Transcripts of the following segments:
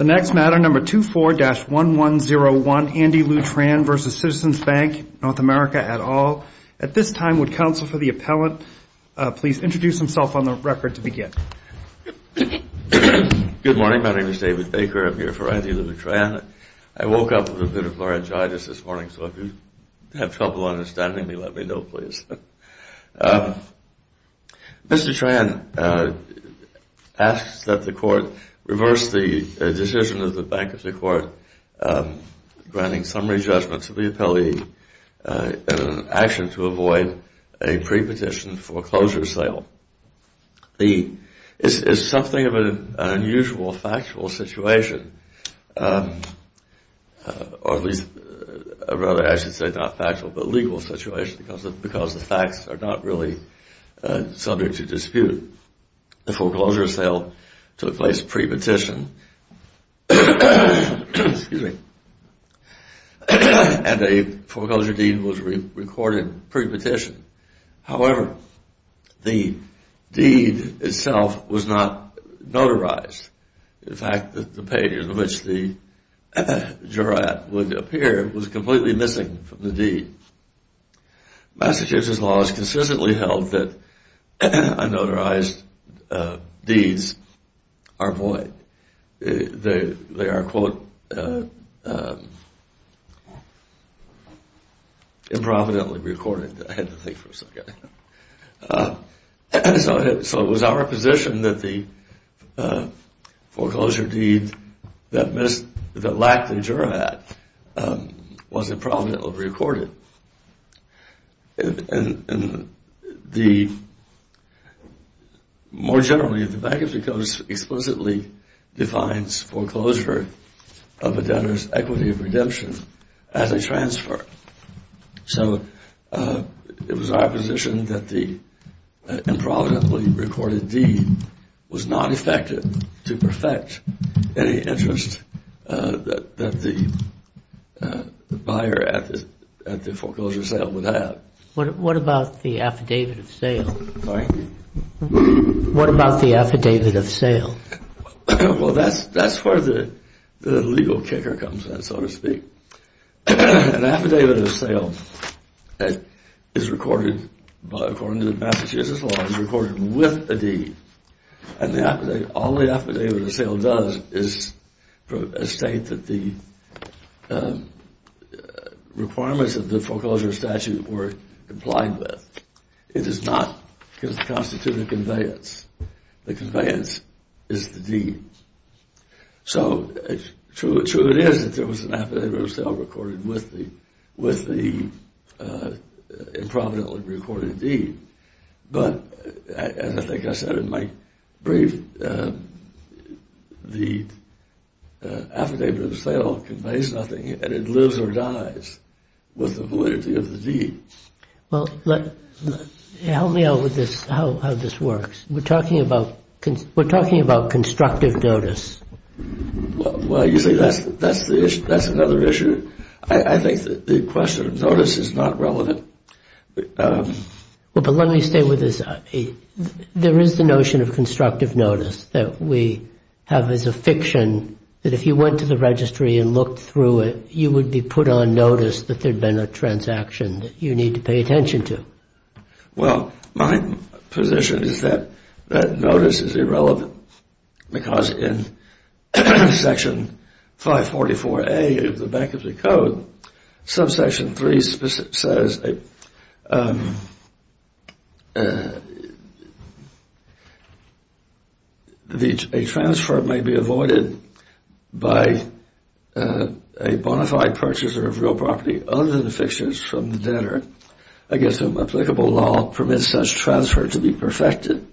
at all. At this time, would counsel for the appellant please introduce himself on the record to begin. Good morning. My name is David Baker. I'm here for Andy Lou Tran. I woke up with a bit of laryngitis this morning, so if you have trouble understanding me, let me know, please. Mr. Tran asks that the Court reverse the decision of the Bank of New York granting summary judgment to the appellee in an action to avoid a pre-petition foreclosure sale. It's something of an unusual factual situation, or at least rather I should say not factual but legal situation because the facts are not really subject to dispute. The foreclosure sale took place pre-petition and a foreclosure deed was recorded pre-petition. However, the deed itself was not notarized. In fact, the page on which the jurat would appear was completely missing from the deed. Massachusetts law has consistently held that unnotarized deeds are void. They are, quote, improvidently recorded. I had to think for a second. So it was our position that the foreclosure deed that lacked the jurat was improvidently recorded. More generally, the Bank of New York explicitly defines foreclosure of a debtor's equity of redemption as a transfer. So it was our position that the improvidently recorded deed was not effective to perfect any interest that the buyer at the foreclosure sale would have. What about the affidavit of sale? Well, that's where the legal kicker comes in, so to speak. An affidavit of sale is recorded, according to the Massachusetts law, is recorded with a deed. And all the affidavit of sale does is state that the requirements of the foreclosure statute were complied with. It does not constitute a conveyance. The conveyance is the deed. So true it is that there was an affidavit of sale recorded with the improvidently recorded deed. But as I think I said in my brief, the affidavit of sale conveys nothing, and it lives or dies with the validity of the deed. Well, help me out with how this works. We're talking about constructive notice. Well, you see, that's another issue. I think the question of notice is not relevant. Well, but let me stay with this. There is the notion of constructive notice that we have as a fiction, that if you went to the registry and looked through it, you would be put on notice that there had been a transaction that you need to pay attention to. Well, my position is that notice is irrelevant because in Section 544A of the Bankruptcy Code, subsection 3 says a transfer may be avoided by a bona fide purchaser of real property other than fixtures from the debtor. I guess an applicable law permits such transfer to be perfected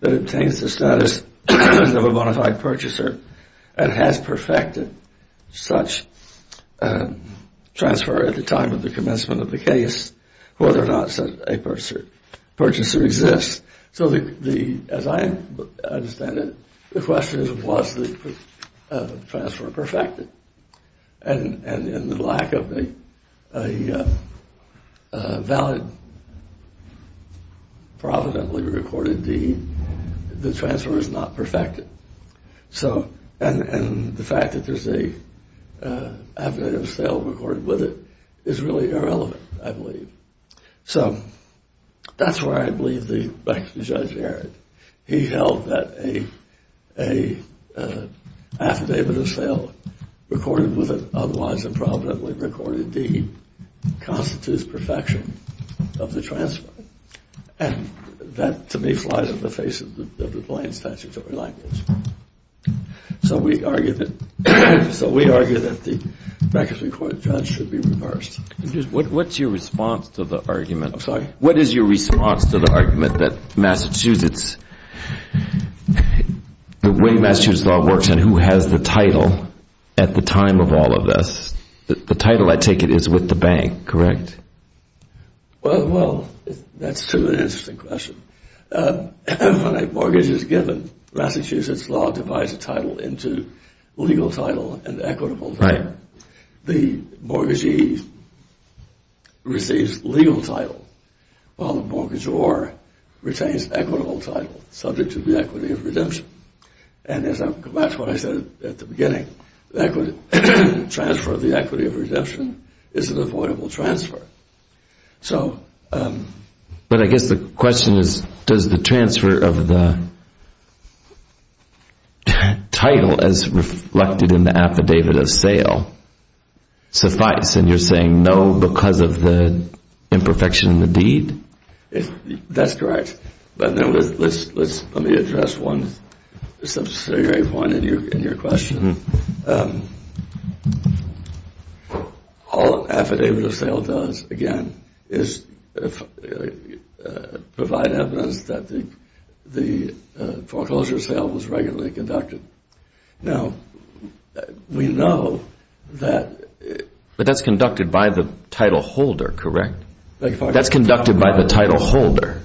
that obtains the status of a bona fide purchaser and has perfected such transfer at the time of the commencement of the case whether or not such a purchaser exists. So as I understand it, the question is, was the transfer perfected? And in the lack of a valid, providently recorded deed, the transfer is not perfected. And the fact that there's an affidavit of sale recorded with it is really irrelevant, I believe. So that's why I believe the Bankruptcy Judge, Eric, he held that an affidavit of sale recorded with an otherwise improvidently recorded deed constitutes perfection of the transfer. And that, to me, flies in the face of the plain statutory language. So we argue that the Bankruptcy Court Judge should be reversed. What's your response to the argument that Massachusetts, the way Massachusetts law works and who has the title at the time of all of this? The title, I take it, is with the bank, correct? Well, that's an interesting question. When a mortgage is given, Massachusetts law divides the title into legal title and equitable title. The mortgagee receives legal title while the mortgagor retains equitable title subject to the equity of redemption. And that's what I said at the beginning. The transfer of the equity of redemption is an avoidable transfer. But I guess the question is, does the transfer of the title as reflected in the affidavit of sale suffice? And you're saying no because of the imperfection of the deed? That's correct. But let me address one substantive point in your question. All an affidavit of sale does, again, is provide evidence that the foreclosure sale was regularly conducted. But that's conducted by the title holder, correct? That's conducted by the title holder.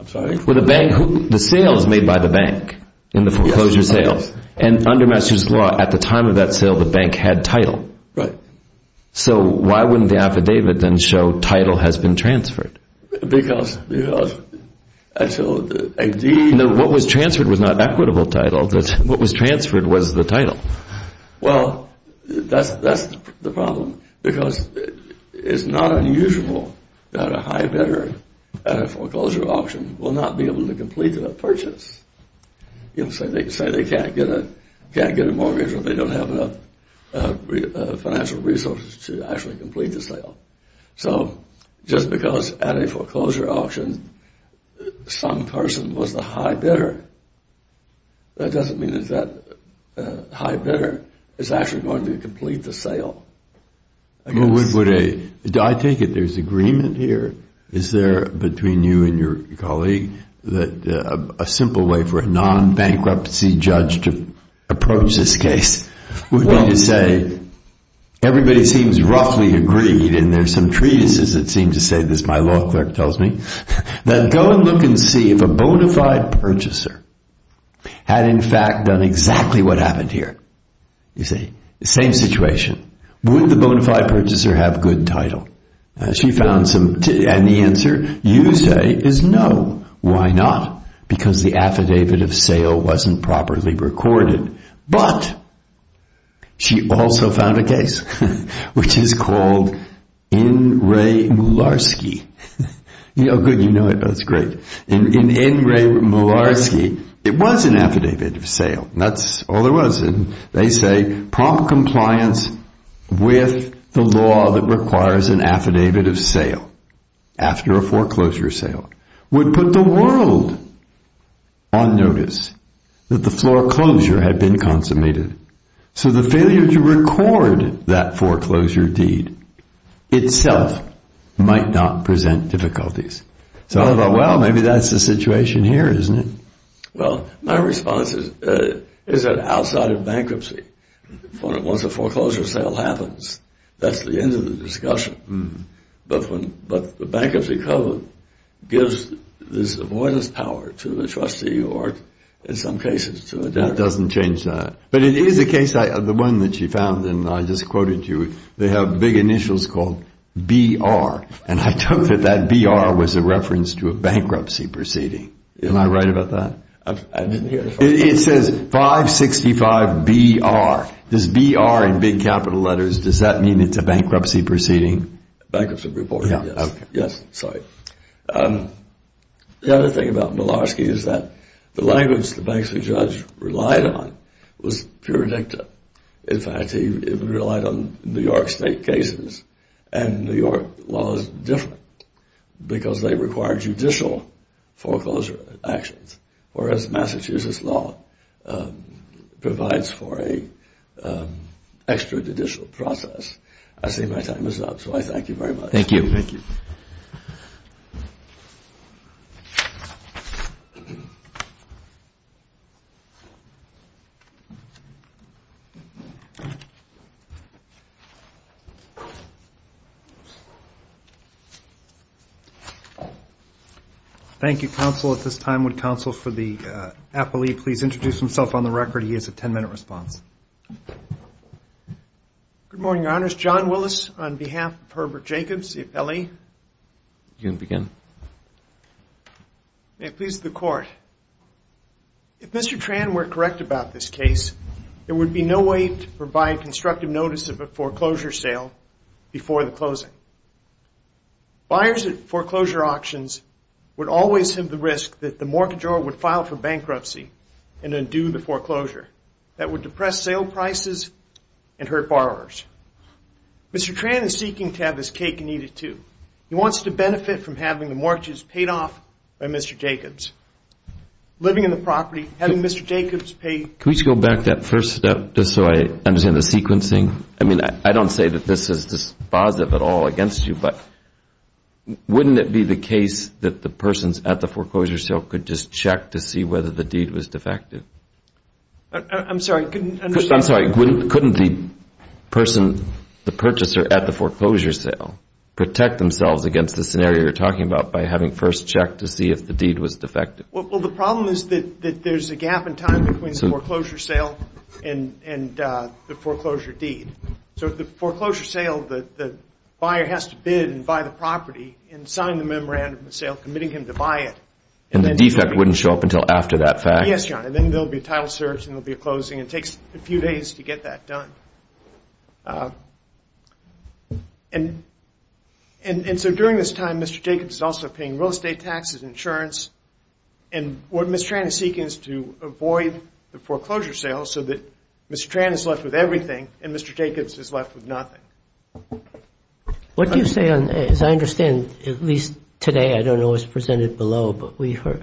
The sale is made by the bank in the foreclosure sale. And under Massachusetts law, at the time of that sale, the bank had title. So why wouldn't the affidavit then show title has been transferred? What was transferred was not equitable title. What was transferred was the title. Well, that's the problem because it's not unusual that a high bidder at a foreclosure auction will not be able to complete a purchase. You know, say they can't get a mortgage or they don't have enough financial resources to actually complete the sale. So just because at a foreclosure auction some person was the high bidder, that doesn't mean that that high bidder is actually going to complete the sale. I take it there's agreement here? Is there, between you and your colleague, that a simple way for a non-bankruptcy judge to approach this case would be to say, everybody seems roughly agreed, and there's some treatises that seem to say this, my law clerk tells me, that go and look and see if a bona fide purchaser had in fact done exactly what happened here. Same situation. Would the bona fide purchaser have good title? And the answer, you say, is no. Why not? Because the affidavit of sale wasn't properly recorded. But, she also found a case which is called Ingray-Mularski. Ingray-Mularski, it was an affidavit of sale. That's all there was. And they say, prompt compliance with the law that requires an affidavit of sale, after a foreclosure sale, would put the world on notice that the foreclosure had been consummated. So the failure to record that foreclosure deed itself might not present difficulties. So I thought, well, maybe that's the situation here, isn't it? Well, my response is that outside of bankruptcy, once a foreclosure sale happens, that's the end of the discussion. But the Bankruptcy Code gives this avoidance power to the trustee or, in some cases, to a debtor. That doesn't change that. But it is a case, the one that she found, and I just quoted you, they have big initials called BR. And I took that that BR was a reference to a bankruptcy proceeding. Am I right about that? I didn't hear it. It says 565 BR. This BR in big capital letters, does that mean it's a bankruptcy proceeding? Bankruptcy reporting, yes. Yes, sorry. The other thing about Milarski is that the language the bankruptcy judge relied on was pure dicta. In fact, he relied on New York State cases. And New York law is different because they require judicial foreclosure actions, whereas Massachusetts law provides for an extrajudicial process. I see my time is up, so I thank you very much. Thank you. Thank you. Thank you, counsel. At this time, would counsel for the appellee please introduce himself on the record? He has a 10-minute response. Good morning, Your Honors. John Willis on behalf of Herbert Jacobs, the appellee. You can begin. May it please the Court. If Mr. Tran were correct about this case, there would be no way to provide constructive notice of a foreclosure sale before the closing. Buyers at foreclosure auctions would always have the risk that the mortgagor would file for bankruptcy and undo the foreclosure. That would depress sale prices and hurt borrowers. Mr. Tran is seeking to have this cake and eat it too. He wants to benefit from having the mortgages paid off by Mr. Jacobs. Living in the property, having Mr. Jacobs pay I mean, I don't say that this is dispositive at all against you, but wouldn't it be the case that the persons at the foreclosure sale could just check to see whether the deed was defective? I'm sorry. I'm sorry. Couldn't the person, the purchaser at the foreclosure sale, protect themselves against the scenario you're talking about by having first checked to see if the deed was defective? Well, the problem is that there's a gap in time between the foreclosure sale and the foreclosure deed. So at the foreclosure sale, the buyer has to bid and buy the property and sign the memorandum of sale, committing him to buy it. And the defect wouldn't show up until after that fact? Yes, Your Honor. Then there'll be a title search and there'll be a closing. It takes a few days to get that done. And so during this time, Mr. Jacobs is also paying real estate taxes, insurance. And what Ms. Tran is seeking is to avoid the foreclosure sale so that Ms. Tran is left with everything and Mr. Jacobs is left with nothing. What do you say on, as I understand, at least today, I don't know what's presented below, but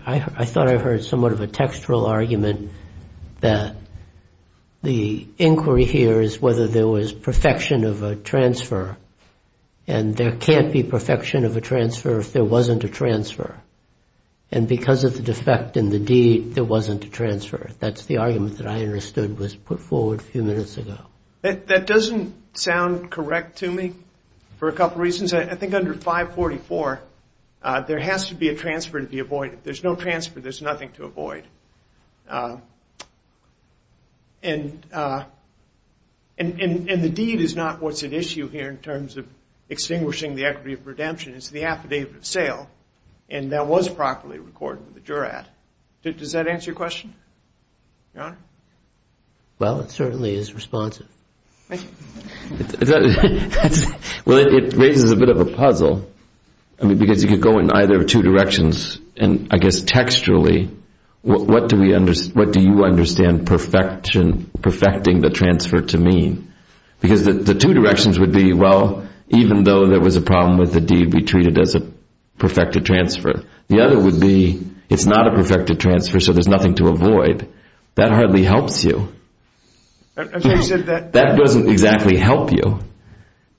I thought I heard somewhat of a textural argument that the inquiry here is whether there was perfection of a transfer. And there can't be perfection of a transfer if there wasn't a transfer. And because of the defect in the deed, there wasn't a transfer. That's the argument that I understood was put forward a few minutes ago. That doesn't sound correct to me for a couple reasons. I think under 544, there has to be a transfer to be avoided. If there's no transfer, there's nothing to avoid. And the deed is not what's at issue here in terms of extinguishing the equity of redemption. It's the affidavit of sale. And that was properly recorded with the jurat. Does that answer your question, Your Honor? Well, it certainly is responsive. Well, it raises a bit of a puzzle. I mean, because you could go in either two directions. And I guess texturally, what do you understand perfecting the transfer to mean? Because the two directions would be, well, even though there was a problem with the deed, we treat it as a perfected transfer. The other would be it's not a perfected transfer, so there's nothing to avoid. That hardly helps you. That doesn't exactly help you.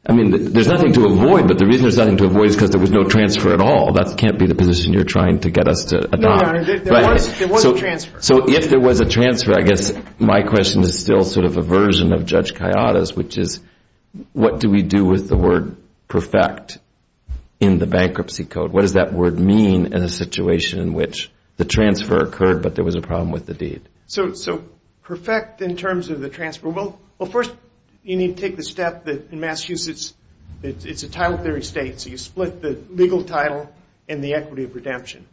I mean, there's nothing to avoid. But the reason there's nothing to avoid is because there was no transfer at all. That can't be the position you're trying to get us to adopt. So if there was a transfer, I guess my question is still sort of a version of Judge Kayada's, which is what do we do with the word perfect in the bankruptcy code? What does that word mean in a situation in which the transfer occurred but there was a problem with the deed? So perfect in terms of the transfer, well, first you need to take the step that in Massachusetts, it's a title theory state, so you split the legal title and the equity of redemption.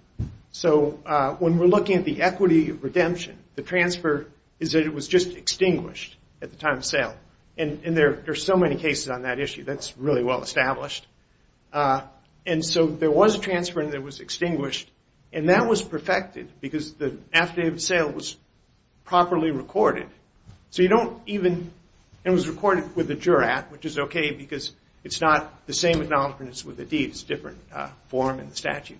So when we're looking at the equity of redemption, the transfer is that it was just extinguished at the time of sale. And there are so many cases on that issue. That's really well established. And so there was a transfer and it was extinguished. And that was perfected because the after the sale was properly recorded. So you don't even – it was recorded with a jurat, which is okay because it's not the same acknowledgement as with the deed. It's a different form in the statute.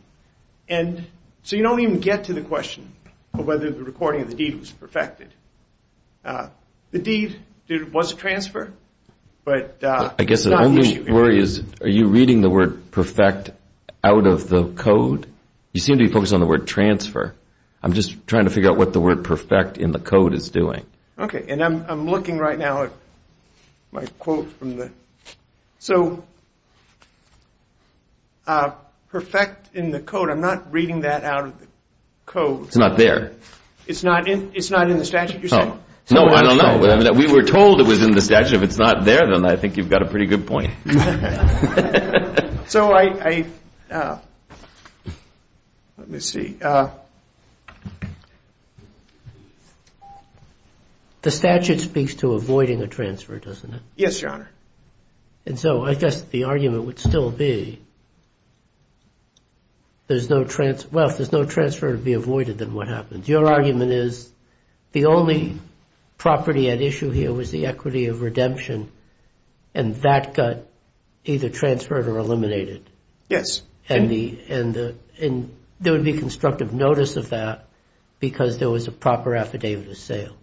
And so you don't even get to the question of whether the recording of the deed was perfected. The deed was a transfer, but it's not the issue. My worry is are you reading the word perfect out of the code? You seem to be focused on the word transfer. I'm just trying to figure out what the word perfect in the code is doing. Okay. And I'm looking right now at my quote from the – so perfect in the code, I'm not reading that out of the code. It's not there. It's not in the statute you're saying? No, I don't know. We were told it was in the statute. If it's not there, then I think you've got a pretty good point. So I – let me see. The statute speaks to avoiding a transfer, doesn't it? Yes, Your Honor. And so I guess the argument would still be there's no – well, if there's no transfer to be avoided, then what happens? Your argument is the only property at issue here was the equity of redemption, and that got either transferred or eliminated. Yes. And there would be constructive notice of that because there was a proper affidavit of sale.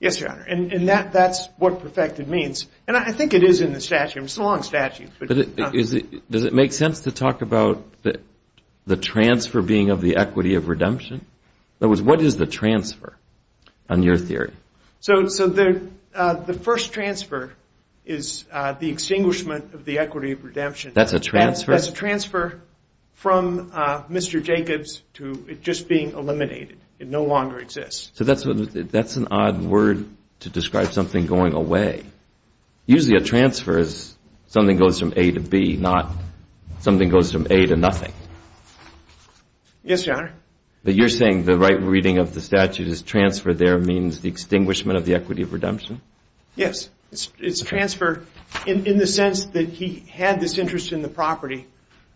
Yes, Your Honor. And that's what perfected means. And I think it is in the statute. It's a long statute. Does it make sense to talk about the transfer being of the equity of redemption? In other words, what is the transfer on your theory? So the first transfer is the extinguishment of the equity of redemption. That's a transfer? That's a transfer from Mr. Jacobs to it just being eliminated. It no longer exists. So that's an odd word to describe something going away. Usually a transfer is something goes from A to B, not something goes from A to nothing. Yes, Your Honor. But you're saying the right reading of the statute is transfer there means the extinguishment of the equity of redemption? Yes. It's transfer in the sense that he had this interest in the property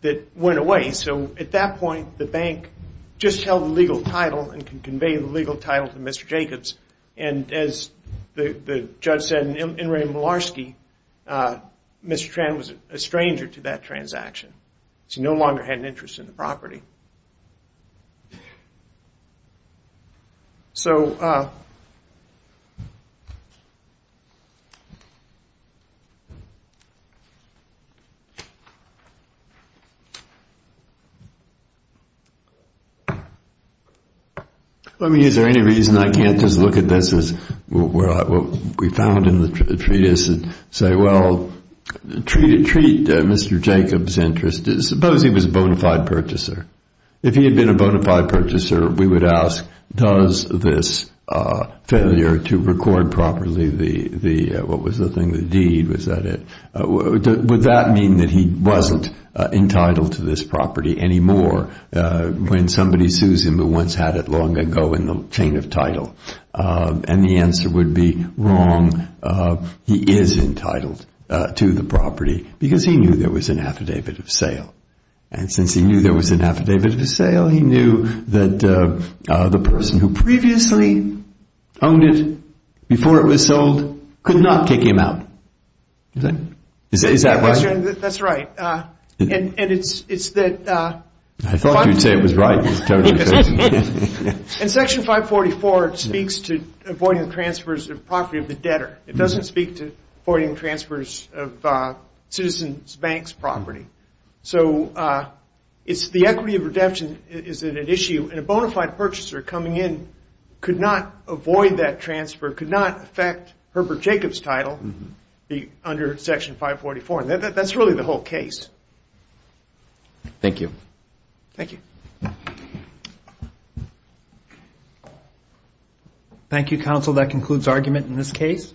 that went away. So at that point, the bank just held the legal title and conveyed the legal title to Mr. Jacobs. And as the judge said, Mr. Tran was a stranger to that transaction. He no longer had an interest in the property. Is there any reason I can't just look at this as what we found in the treatise and say, well, treat Mr. Jacobs' interest as suppose he was a bona fide purchaser? If he had been a bona fide purchaser, we would ask, does this failure to record properly the deed, would that mean that he wasn't entitled to this property anymore when somebody sues him who once had it long ago in the chain of title? And the answer would be wrong. He is entitled to the property because he knew there was an affidavit of sale. And since he knew there was an affidavit of sale, he knew that the person who previously owned it before it was sold could not take him out. Is that right? That's right. And it's that 544. I thought you'd say it was right. And Section 544 speaks to avoiding the transfers of property of the debtor. It doesn't speak to avoiding transfers of Citizens Bank's property. So it's the equity of redemption is an issue. And a bona fide purchaser coming in could not avoid that transfer, could not affect Herbert Jacobs' title under Section 544. That's really the whole case. Thank you. Thank you. Thank you, counsel. That concludes argument in this case.